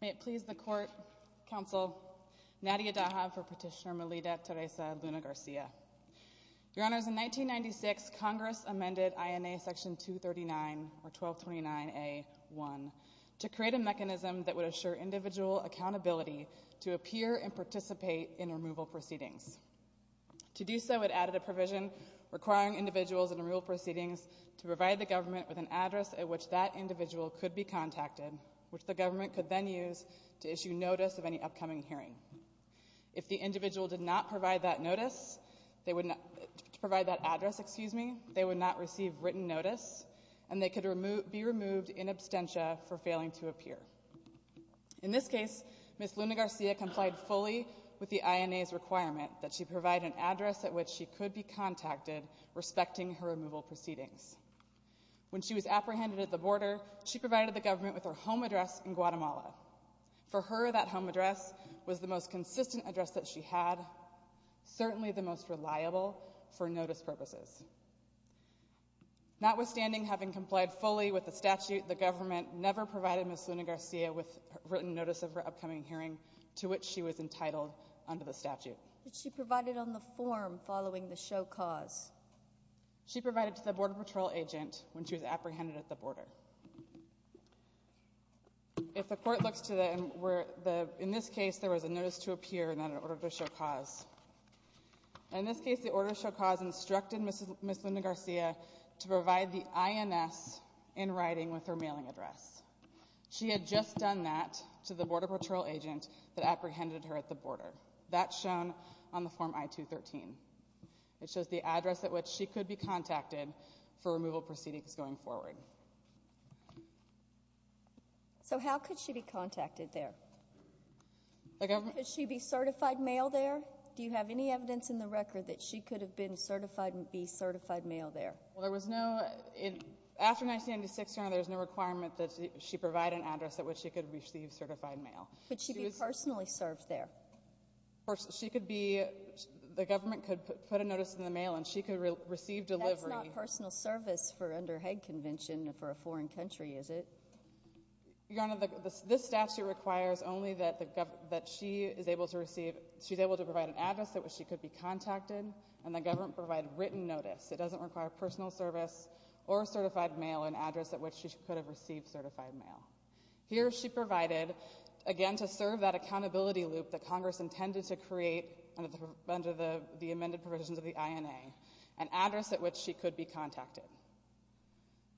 May it please the Court, Counsel Nadia Dahab for petition. Your Honors, in 1996, Congress amended INA Section 239 or 1229A.1 to create a mechanism that would assure individual accountability to appear and participate in removal proceedings. To do so, it added a provision requiring individuals in removal proceedings to provide the government with an address at which that individual could be contacted, which the government could then use to issue notice of any upcoming hearing. If the individual did not provide that address, they would not receive written notice, and they could be removed in absentia for failing to appear. In this case, Ms. Luna-Garcia complied fully with the INA's requirement that she provide an address at which she could be contacted respecting her removal proceedings. When she was apprehended at the border, she provided the government with her home address in Guatemala. For her, that home address was the most consistent address that she had, certainly the most reliable for notice purposes. Notwithstanding having complied fully with the statute, the government never provided Ms. Luna-Garcia with written notice of her upcoming hearing, to which she was entitled under the statute. But she provided on the form following the show cause. She provided to the Border Patrol agent when she was apprehended at the border. In this case, there was a notice to appear, and then an order to show cause. In this case, the order to show cause instructed Ms. Luna-Garcia to provide the INS in writing with her mailing address. She had just done that to the Border Patrol agent that apprehended her at the border. That's shown on the form I-213. It shows the address at which she could be contacted for removal proceedings going forward. So how could she be contacted there? Could she be certified male there? Do you have any evidence in the record that she could have been certified and be certified male there? Well, there was no, after 1996, there was no requirement that she provide an address at which she could receive certified male. Could she be personally served there? She could be, the government could put a notice in the mail and she could receive delivery. That's not personal service for under Hague Convention for a foreign country, is it? Your Honor, this statute requires only that she is able to receive, she's able to provide an address at which she could be contacted, and the government provide written notice. It doesn't require personal service or certified mail, an address at which she could have received certified male. Here she provided, again, to serve that accountability loop that Congress intended to create under the amended provisions of the INA, an address at which she could be contacted.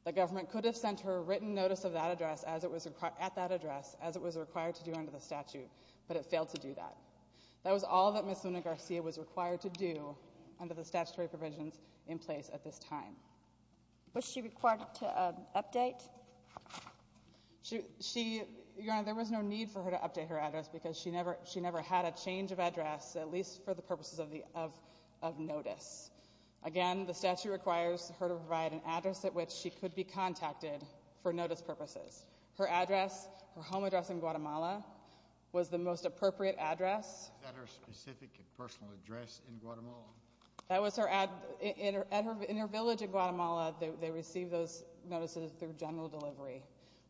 The government could have sent her a written notice of that address as it was required to do under the statute, but it failed to do that. That was all that Ms. Luna-Garcia was required to do under the statutory provisions in place at this time. Was she required to update? She, Your Honor, there was no need for her to update her address because she never had a change of address, at least for the purposes of notice. Again, the statute requires her to provide an address at which she could be contacted for notice purposes. Her address, her home address in Guatemala, was the most appropriate address. Was that her specific and personal address in Guatemala? That was her, in her village in Guatemala, they received those notices through general delivery.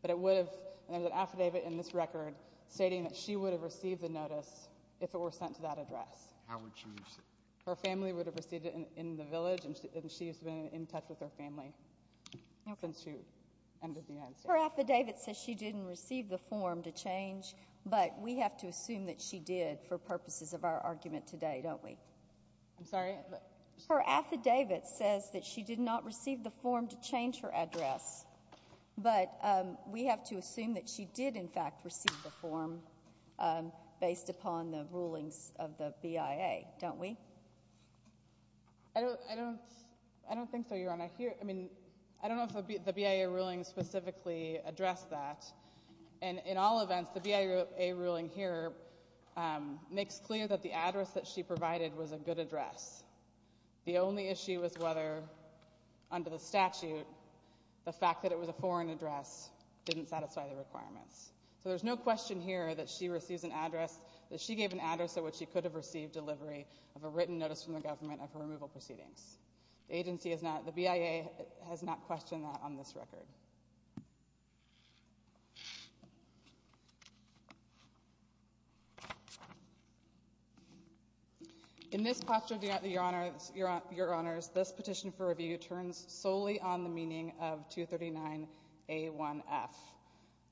But it would have, there's an affidavit in this record stating that she would have received the notice if it were sent to that address. How would she receive it? Her family would have received it in the village, and she's been in touch with her family since she entered the United States. Her affidavit says she didn't receive the form to change, but we have to assume that she did for purposes of our argument today, don't we? I'm sorry? Her affidavit says that she did not receive the form to change her address, but we have to assume that she did, in fact, receive the form based upon the rulings of the BIA, don't we? I don't, I don't, I don't think so, Your Honor. I hear, I mean, I don't know if the BIA ruling specifically addressed that. And in all events, the BIA ruling here makes clear that the address that she provided was a good address. The only issue is whether, under the statute, the fact that it was a foreign address didn't satisfy the requirements. So there's no question here that she receives an address, that she gave an address at which she could have received delivery of a written notice from the government of her removal proceedings. The agency has not, the BIA has not questioned that on this record. In this posture, Your Honor, Your Honors, this petition for review turns solely on the meaning of 239A1F,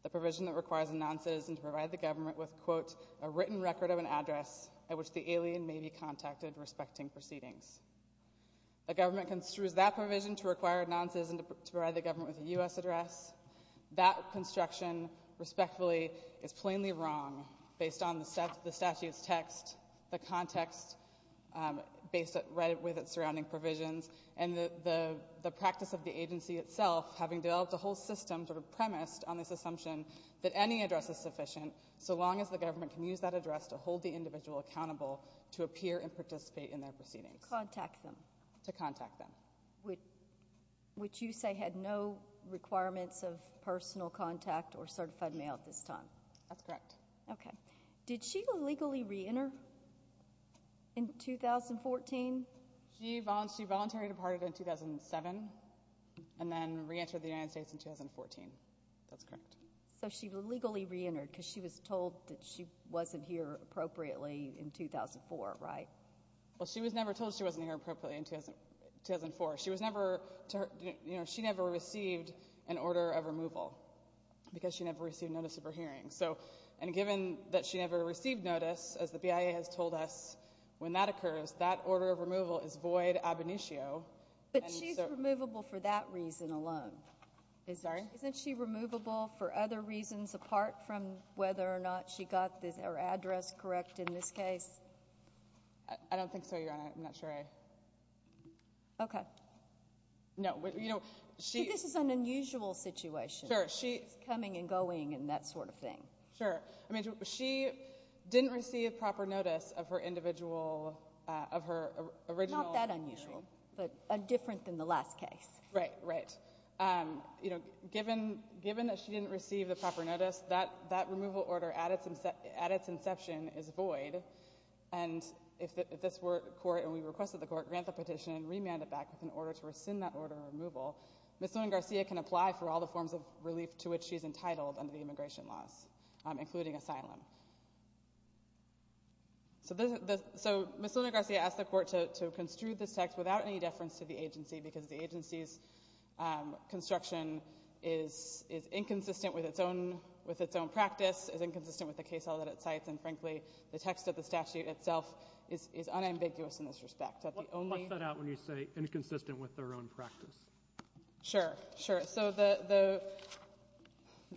the provision that requires a non-citizen to provide the government with, quote, a written record of an address at which the alien may be contacted respecting proceedings. The government construes that provision to require a non-citizen to provide the government with a U.S. address. That construction, respectfully, is plainly wrong based on the statute's text, the context based with its surrounding provisions, and the practice of the agency itself having developed a whole system sort of premised on this assumption that any address is sufficient so long as the government can use that address to hold the individual accountable to appear and participate in their proceedings. To contact them. To contact them. Which you say had no requirements of personal contact or certified mail at this time. That's correct. Okay. Did she legally re-enter in 2014? She voluntarily departed in 2007 and then re-entered the United States in 2014. That's correct. So she legally re-entered because she was told that she wasn't here appropriately in 2004, right? Well, she was never told she wasn't here appropriately in 2004. She was never, you know, she never received an order of removal because she never received notice of her hearing. So, and given that she never received notice, as the BIA has told us, when that occurs, that order of removal is void ab initio. But she's removable for that reason alone. Sorry? Isn't she removable for other reasons apart from whether or not she got her address correct in this case? I don't think so, Your Honor. I'm not sure I... Okay. No. You know, she... But this is an unusual situation. Sure. She... She's coming and going and that sort of thing. Sure. I mean, she didn't receive proper notice of her individual, of her original hearing. Not that unusual. But different than the last case. Right. Right. You know, given that she didn't receive the proper notice, that removal order, at its inception, is void. And if this court, and we requested the court, grant the petition and remand it back with an order to rescind that order of removal, Ms. Luna-Garcia can apply for all the forms of relief to which she's entitled under the immigration laws, including asylum. So, Ms. Luna-Garcia asked the court to construe this text without any deference to the agency because the agency's construction is inconsistent with its own practice, is inconsistent with the case law that it cites, and, frankly, the text of the statute itself is unambiguous in this respect. That the only... Watch that out when you say inconsistent with their own practice. Sure. Sure. So,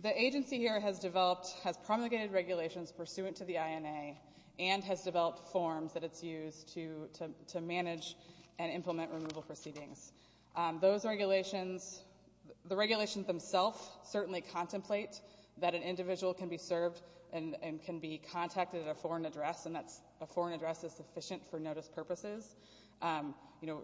the agency here has developed, has promulgated regulations pursuant to the INA and has developed forms that it's used to manage and implement removal proceedings. Those regulations, the regulations themselves certainly contemplate that an individual can be served and can be contacted at a foreign address, and that's, a foreign address is sufficient for notice purposes. You know,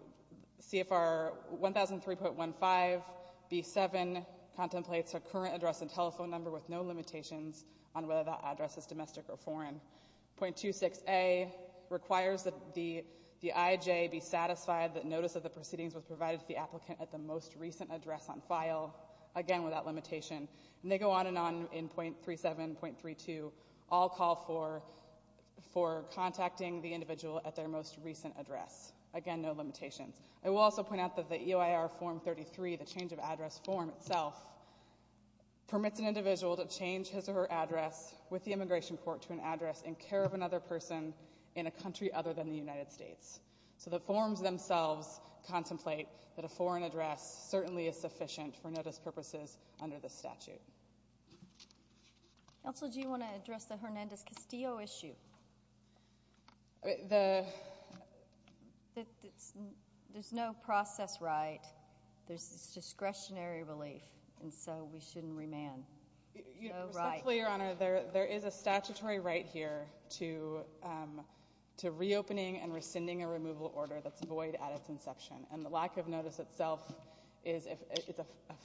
CFR 1003.15B7 contemplates a current address and telephone number with no limitations on whether that address is domestic or foreign. .26A requires that the IJ be satisfied that notice of the proceedings was provided to the applicant at the most recent address on file, again, without limitation. And they go on and on in .37, .32, all call for contacting the individual at their most recent address. Again, no limitations. I will also point out that the EOIR form 33, the change of address form itself, permits an individual to change his or her address with the immigration court to an address in care of another person in a country other than the United States. So the forms themselves contemplate that a foreign address certainly is sufficient for this statute. Counsel, do you want to address the Hernandez-Castillo issue? There's no process right. There's discretionary relief, and so we shouldn't remand. So, right. You know, precisely, Your Honor, there is a statutory right here to reopening and rescinding a removal order that's void at its inception, and the lack of notice itself is a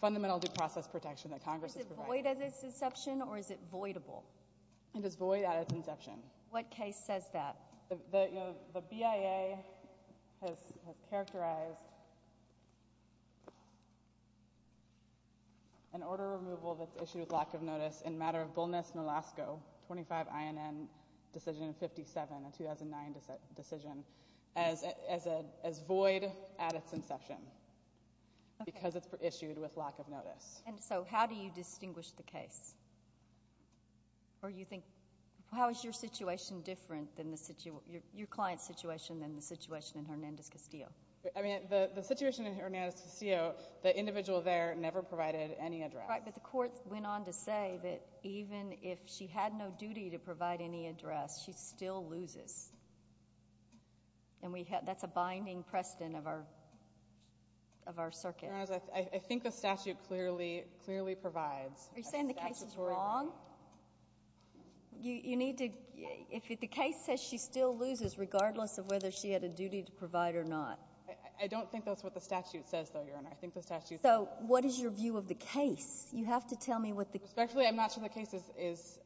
fundamental due process protection that Congress has provided. Is it void at its inception, or is it voidable? It is void at its inception. What case says that? You know, the BIA has characterized an order of removal that's issued with lack of notice in a matter of boldness in Alaska, 25 INN decision 57, a 2009 decision, as void at its inception. And so how do you distinguish the case? Or you think, how is your situation different than the situation, your client's situation than the situation in Hernandez-Castillo? I mean, the situation in Hernandez-Castillo, the individual there never provided any address. Right, but the court went on to say that even if she had no duty to provide any address, she still loses. And we have, that's a binding precedent of our, of our circuit. Your Honor, I think the statute clearly, clearly provides that statutory. Are you saying the case is wrong? You need to, if the case says she still loses, regardless of whether she had a duty to provide or not. I don't think that's what the statute says, though, Your Honor. I think the statute says that. So what is your view of the case? You have to tell me what the case says. Respectfully, I'm not sure the case is,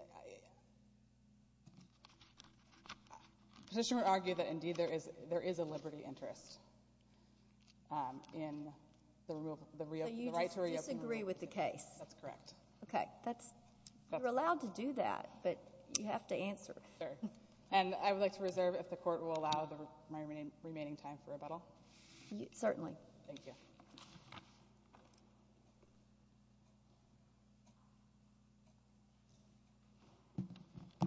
the petitioner argued that, indeed, there is a liberty interest in the reo, the reo, the right to reopen the room. So you disagree with the case? That's correct. Okay. That's, you're allowed to do that, but you have to answer. Sure. And I would like to reserve, if the court will allow, my remaining time for rebuttal. Certainly. Thank you.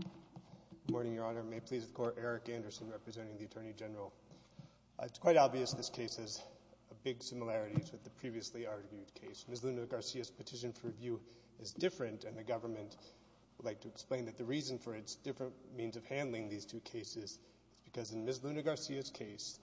Good morning, Your Honor. May it please the Court, Eric Anderson, representing the Attorney General. It's quite obvious this case has big similarities with the previously argued case. Ms. Luna-Garcia's petition for review is different, and the government would like to explain that the reason for its different means of handling these two cases is because in Ms. Luna-Garcia's case,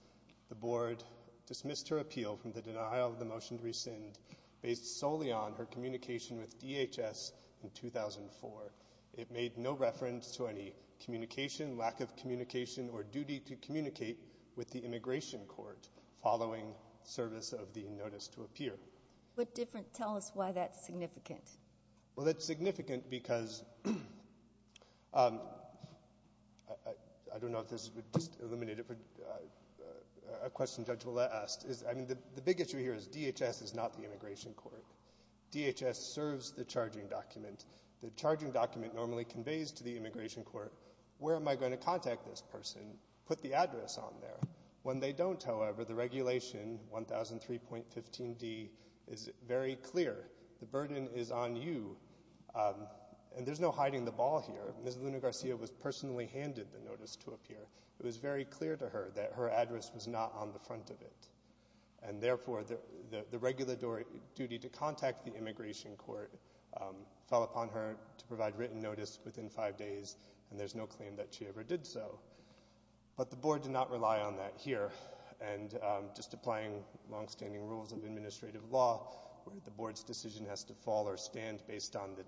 the Board dismissed her appeal from the denial of the motion to rescind based solely on her communication with DHS in 2004. It made no reference to any communication, lack of communication, or duty to communicate with the Immigration Court following service of the notice to appear. But different. Tell us why that's significant. Well, that's significant because, I don't know if this would just eliminate a question Judge Willette asked. I mean, the big issue here is DHS is not the Immigration Court. DHS serves the charging document. The charging document normally conveys to the Immigration Court, where am I going to contact this person, put the address on there. When they don't, however, the regulation, 1003.15d, is very clear. The burden is on you, and there's no hiding the ball here. Ms. Luna-Garcia was personally handed the notice to appear. It was very clear to her that her address was not on the front of it, and therefore, the regular duty to contact the Immigration Court fell upon her to provide written notice within five days, and there's no claim that she ever did so. But the Board did not rely on that here. And just applying longstanding rules of administrative law, where the Board's decision has to fall or stand based on the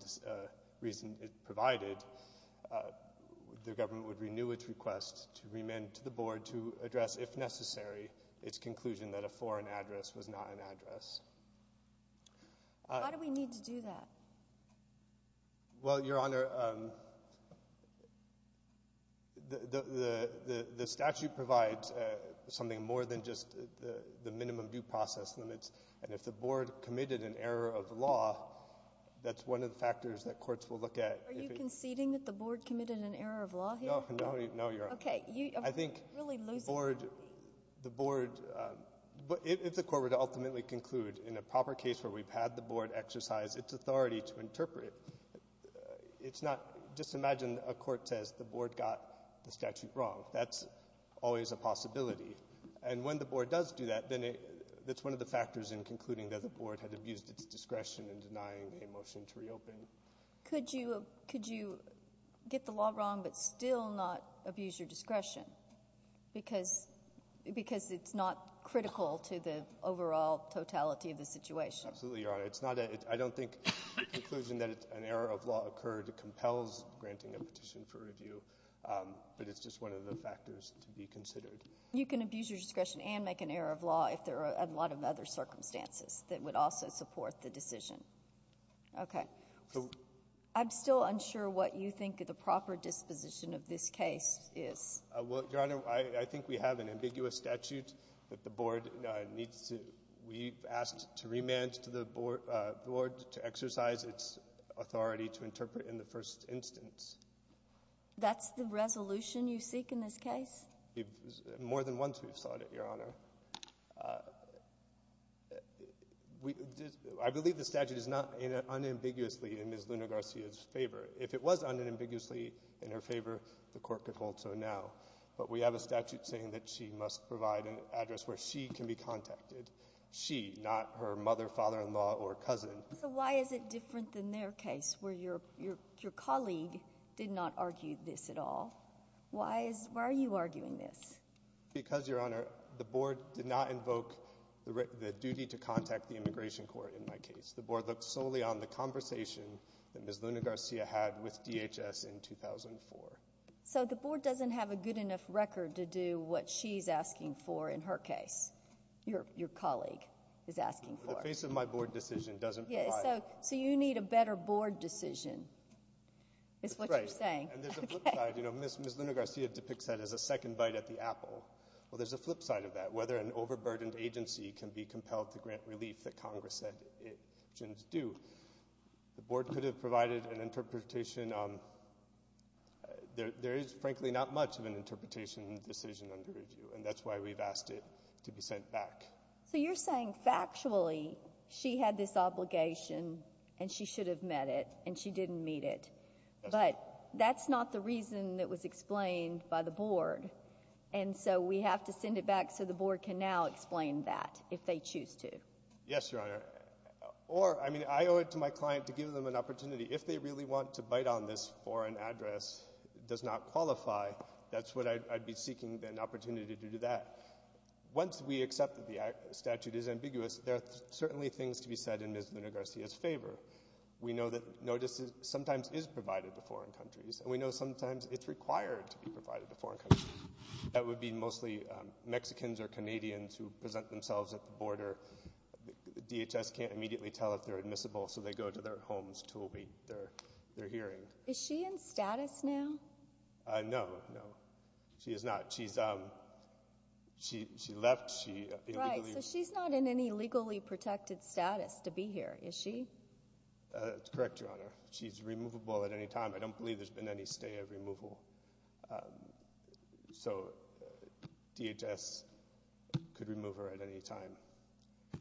reason it provided, the government would renew its request to the Board to address, if necessary, its conclusion that a foreign address was not an address. Why do we need to do that? Well, Your Honor, the statute provides something more than just the minimum due process limits, and if the Board committed an error of law, that's one of the factors that courts will look at. Are you conceding that the Board committed an error of law here? No, Your Honor. Okay. You're really losing me. I think the Board — if the Court were to ultimately conclude in a proper case where we've had the Board exercise its authority to interpret, it's not — just imagine a court says the Board got the statute wrong. That's always a possibility. And when the Board does do that, then it — that's one of the factors in concluding that the Board had abused its discretion in denying a motion to reopen. Could you — could you get the law wrong, but still not abuse your discretion? Because — because it's not critical to the overall totality of the situation. Absolutely, Your Honor. It's not a — I don't think the conclusion that an error of law occurred compels granting a petition for review, but it's just one of the factors to be considered. You can abuse your discretion and make an error of law if there are a lot of other circumstances that would also support the decision. Okay. I'm still unsure what you think the proper disposition of this case is. Well, Your Honor, I think we have an ambiguous statute that the Board needs to — we've asked to remand to the Board to exercise its authority to interpret in the first instance. That's the resolution you seek in this case? More than once we've sought it, Your Honor. We — I believe the statute is not unambiguously in Ms. Luna-Garcia's favor. If it was unambiguously in her favor, the Court could hold so now. But we have a statute saying that she must provide an address where she can be contacted — she, not her mother, father-in-law, or cousin. So why is it different than their case, where your colleague did not argue this at all? Why is — why are you arguing this? Because, Your Honor, the Board did not invoke the duty to contact the Immigration Court in my case. The Board looked solely on the conversation that Ms. Luna-Garcia had with DHS in 2004. So the Board doesn't have a good enough record to do what she's asking for in her case — your colleague is asking for. The face of my Board decision doesn't provide — Yeah, so you need a better Board decision, is what you're saying. That's right. And there's a flip side — you know, Ms. Luna-Garcia depicts that as a second bite at the apple. Well, there's a flip side of that, whether an overburdened agency can be compelled to grant relief that Congress said it shouldn't do. The Board could have provided an interpretation on — there is, frankly, not much of an interpretation in the decision under review, and that's why we've asked it to be sent back. So you're saying, factually, she had this obligation, and she should have met it, and she didn't meet it. That's right. But that's not the reason that was explained by the Board, and so we have to send it back so the Board can now explain that, if they choose to. Yes, Your Honor. Or, I mean, I owe it to my client to give them an opportunity. If they really want to bite on this for an address that does not qualify, that's what I'd be seeking an opportunity to do to that. Once we accept that the statute is ambiguous, there are certainly things to be said in Ms. Luna-Garcia's favor. We know that notice sometimes is provided to foreign countries, and we know sometimes it's required to be provided to foreign countries. That would be mostly Mexicans or Canadians who present themselves at the border. DHS can't immediately tell if they're admissible, so they go to their homes to await their hearing. Is she in status now? No, no. She is not. She's — she left. She illegally — Right. So she's not in any legally protected status to be here, is she? That's correct, Your Honor. She's removable at any time. I don't believe there's been any stay of removal. So DHS could remove her at any time.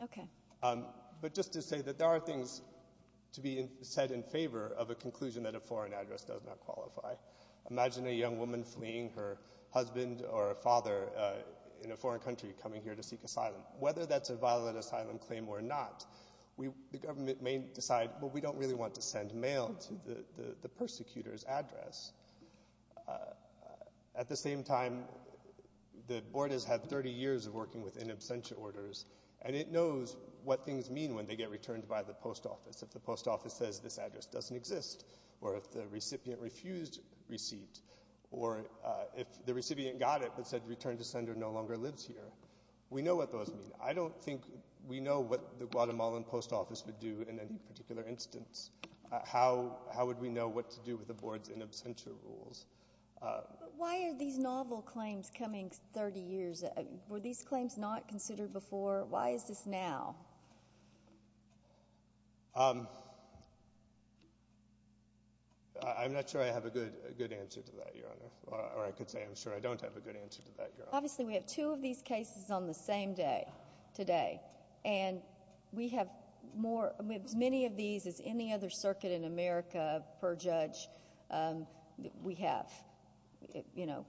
Okay. But just to say that there are things to be said in favor of a conclusion that a foreign address does not qualify. Imagine a young woman fleeing her husband or a father in a foreign country coming here to seek asylum. Whether that's a violent asylum claim or not, the government may decide, well, we don't really want to send mail to the persecutor's address. At the same time, the board has had 30 years of working with in absentia orders, and it knows what things mean when they get returned by the post office — if the post office says this address doesn't exist, or if the recipient refused receipt, or if the recipient got it but said the return to sender no longer lives here. We know what those mean. I don't think we know what the Guatemalan post office would do in any particular instance. How would we know what to do with the board's in absentia rules? Why are these novel claims coming 30 years? Were these claims not considered before? Why is this now? I'm not sure I have a good answer to that, Your Honor, or I could say I'm sure I don't have a good answer to that, Your Honor. Obviously, we have two of these cases on the same day today, and we have more — as many of these as any other circuit in America per judge, we have — you know,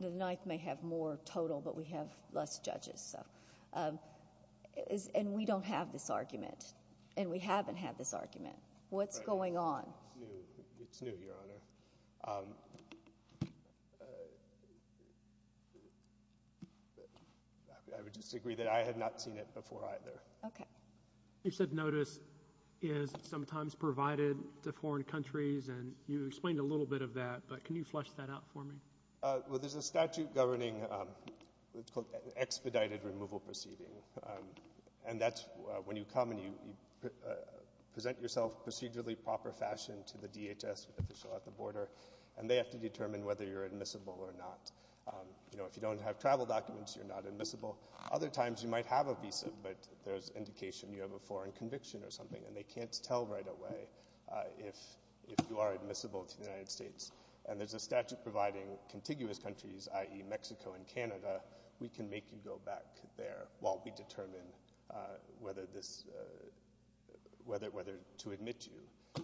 the Ninth may have more total, but we have less judges, so — and we don't have this argument, and we haven't had this argument. What's going on? It's new, Your Honor. I would just agree that I had not seen it before either. Okay. You said notice is sometimes provided to foreign countries, and you explained a little bit of that, but can you flesh that out for me? Well, there's a statute governing what's called an expedited removal proceeding, and that's when you come and you present yourself procedurally, proper fashion to the DHS official at the border, and they have to determine whether you're admissible or not. You know, if you don't have travel documents, you're not admissible. Other times you might have a visa, but there's indication you have a foreign conviction or something, and they can't tell right away if you are admissible to the United States. And there's a statute providing contiguous countries, i.e., Mexico and Canada, we can make you go back there while we determine whether this — whether to admit you.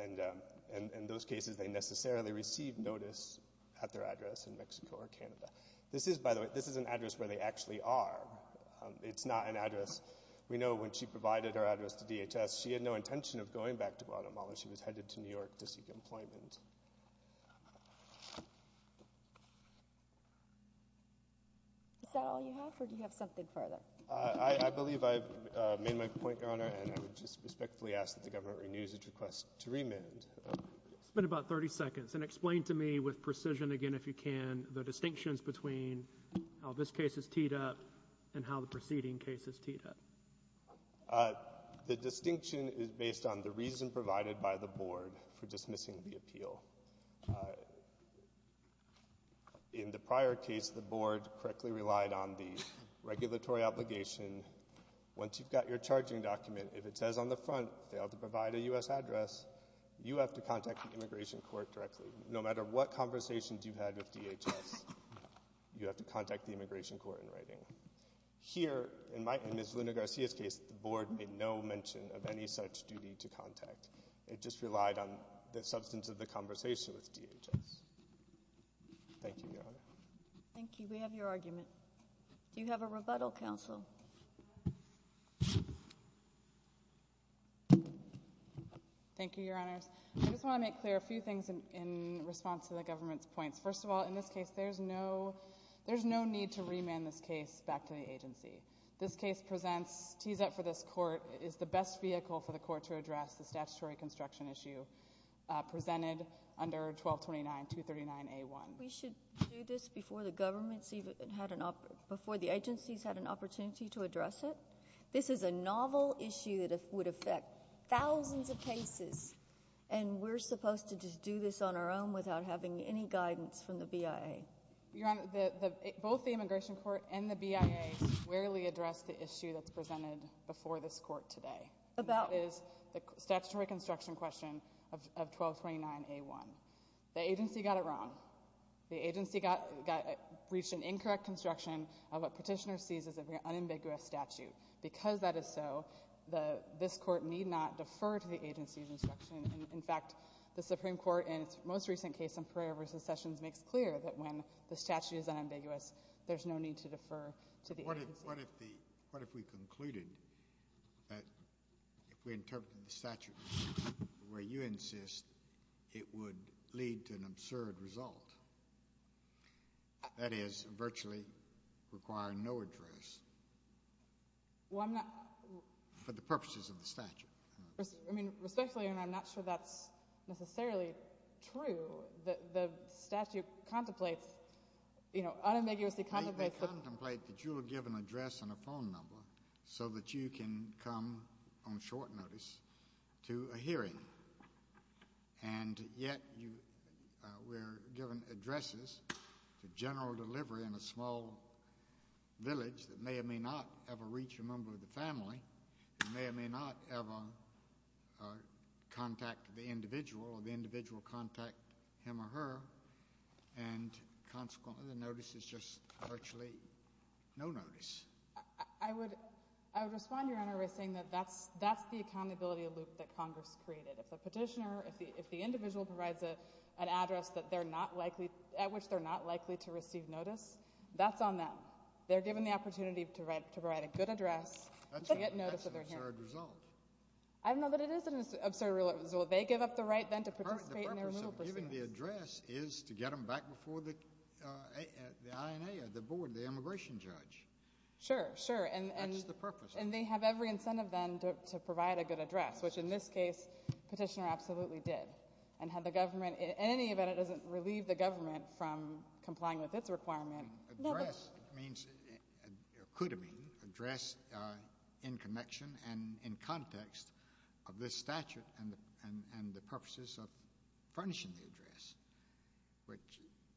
And in those cases, they necessarily receive notice at their address in Mexico or Canada. This is, by the way, this is an address where they actually are. It's not an address — we know when she provided her address to DHS, she had no intention of going back to Guatemala. She was headed to New York to seek employment. Is that all you have, or do you have something further? I believe I've made my point, Your Honor, and I would just respectfully ask that the case be remanded. It's been about 30 seconds, and explain to me with precision, again, if you can, the distinctions between how this case is teed up and how the preceding case is teed up. The distinction is based on the reason provided by the Board for dismissing the appeal. In the prior case, the Board correctly relied on the regulatory obligation. Once you've got your charging document, if it says on the front they ought to provide a U.S. address, you have to contact the immigration court directly. No matter what conversations you've had with DHS, you have to contact the immigration court in writing. Here, in Ms. Luna-Garcia's case, the Board made no mention of any such duty to contact. It just relied on the substance of the conversation with DHS. Thank you, Your Honor. Thank you. We have your argument. Do you have a rebuttal, counsel? Thank you, Your Honors. I just want to make clear a few things in response to the government's points. First of all, in this case, there's no need to remand this case back to the agency. This case presents, tees up for this court, is the best vehicle for the court to address the statutory construction issue presented under 1229.239A1. I think we should do this before the agencies had an opportunity to address it. This is a novel issue that would affect thousands of cases, and we're supposed to just do this on our own without having any guidance from the BIA. Both the immigration court and the BIA squarely addressed the issue that's presented before this court today, and that is the statutory construction question of 1229A1. The agency got it wrong. The agency reached an incorrect construction of what Petitioner sees as an unambiguous statute. Because that is so, this court need not defer to the agency's instruction. In fact, the Supreme Court, in its most recent case in Pereira v. Sessions, makes clear that when the statute is unambiguous, there's no need to defer to the agency. But what if we concluded that if we interpreted the statute the way you insist, it would lead to an absurd result, that is, virtually require no address for the purposes of the statute? I mean, respectfully, and I'm not sure that's necessarily true, the statute contemplates, you know, unambiguously contemplates that you were given an address and a phone number so that you can come on short notice to a hearing. And yet you were given addresses to general delivery in a small village that may or may not ever reach a member of the family, that may or may not ever contact the individual or the individual contact him or her. And consequently, the notice is just virtually no notice. I would respond to your Honor by saying that that's the accountability loop that Congress created. If the petitioner, if the individual provides an address that they're not likely, at which they're not likely to receive notice, that's on them. They're given the opportunity to write a good address, to get notice of their hearing. That's an absurd result. I know that it is an absurd result. They give up the right then to participate in their removal proceedings. Well, given the address is to get them back before the INA or the board, the immigration judge. Sure, sure. That's the purpose. And they have every incentive then to provide a good address, which in this case, the petitioner absolutely did. And had the government, in any event, it doesn't relieve the government from complying with its requirement. Address means, or could mean, address in connection and in context of this statute and the purposes of furnishing the address, which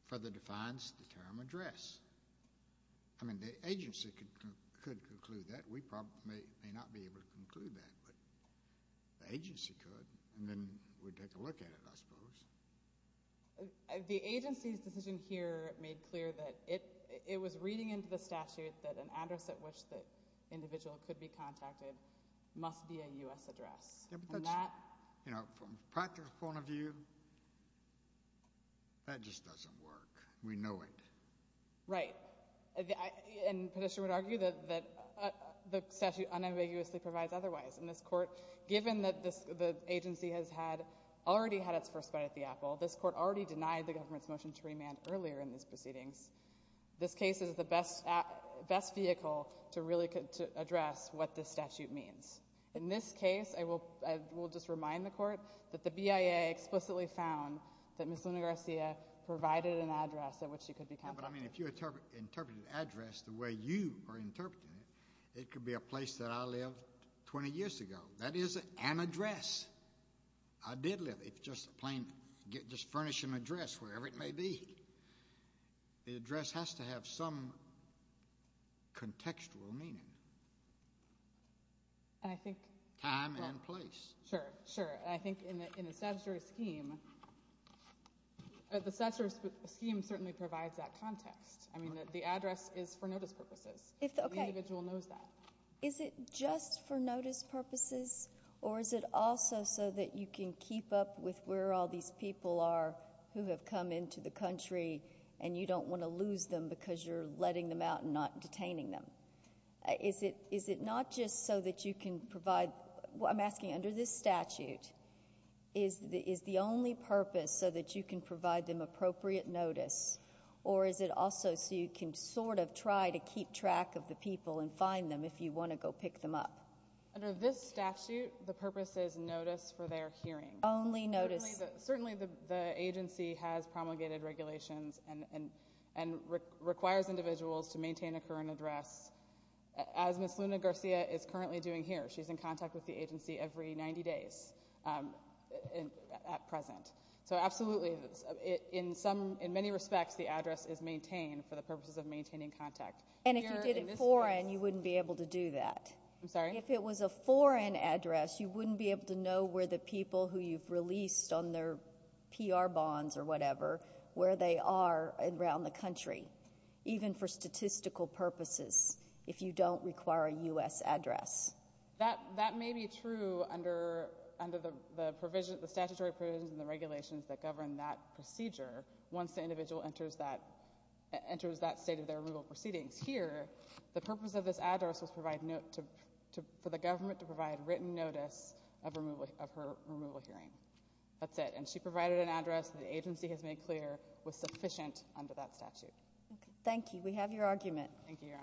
further defines the term address. I mean, the agency could conclude that. We probably may not be able to conclude that, but the agency could, and then we'd take a look at it, I suppose. The agency's decision here made clear that it was reading into the statute that an address at which the individual could be contacted must be a U.S. address. From that, you know, from a practical point of view, that just doesn't work. We know it. Right. And the petitioner would argue that the statute unambiguously provides otherwise. In this court, given that the agency has had, already had its first bite at the apple, this court already denied the government's motion to remand earlier in these proceedings. This case is the best vehicle to really address what this statute means. In this case, I will just remind the court that the BIA explicitly found that Ms. Luna Garcia provided an address at which she could be contacted. But I mean, if you interpret address the way you are interpreting it, it could be a place that I lived 20 years ago. That is an address. I did live. It's just a plain, just furnishing address, wherever it may be. The address has to have some contextual meaning. Time and place. Sure. Sure. And I think in a statutory scheme, the statutory scheme certainly provides that context. I mean, the address is for notice purposes. The individual knows that. Is it just for notice purposes? Or is it also so that you can keep up with where all these people are who have come into the country and you don't want to lose them because you're letting them out and not detaining them? Is it not just so that you can provide, I'm asking under this statute, is the only purpose so that you can provide them appropriate notice? Or is it also so you can sort of try to keep track of the people and find them if you want to go pick them up? Under this statute, the purpose is notice for their hearing. Only notice. Certainly, the agency has promulgated regulations and requires individuals to maintain a current address, as Ms. Luna Garcia is currently doing here. She's in contact with the agency every 90 days at present. So absolutely, in many respects, the address is maintained for the purposes of maintaining contact. And if you did it foreign, you wouldn't be able to do that. I'm sorry? If it was a foreign address, you wouldn't be able to know where the people who you've released on their PR bonds or whatever, where they are around the country. Even for statistical purposes, if you don't require a U.S. address. That may be true under the statutory provisions and the regulations that govern that procedure once the individual enters that state of their rural proceedings. Here, the purpose of this address was for the government to provide written notice of her removal hearing. That's it. And she provided an address that the agency has made clear was sufficient under that statute. Thank you. We have your argument. Thank you, Your Honors.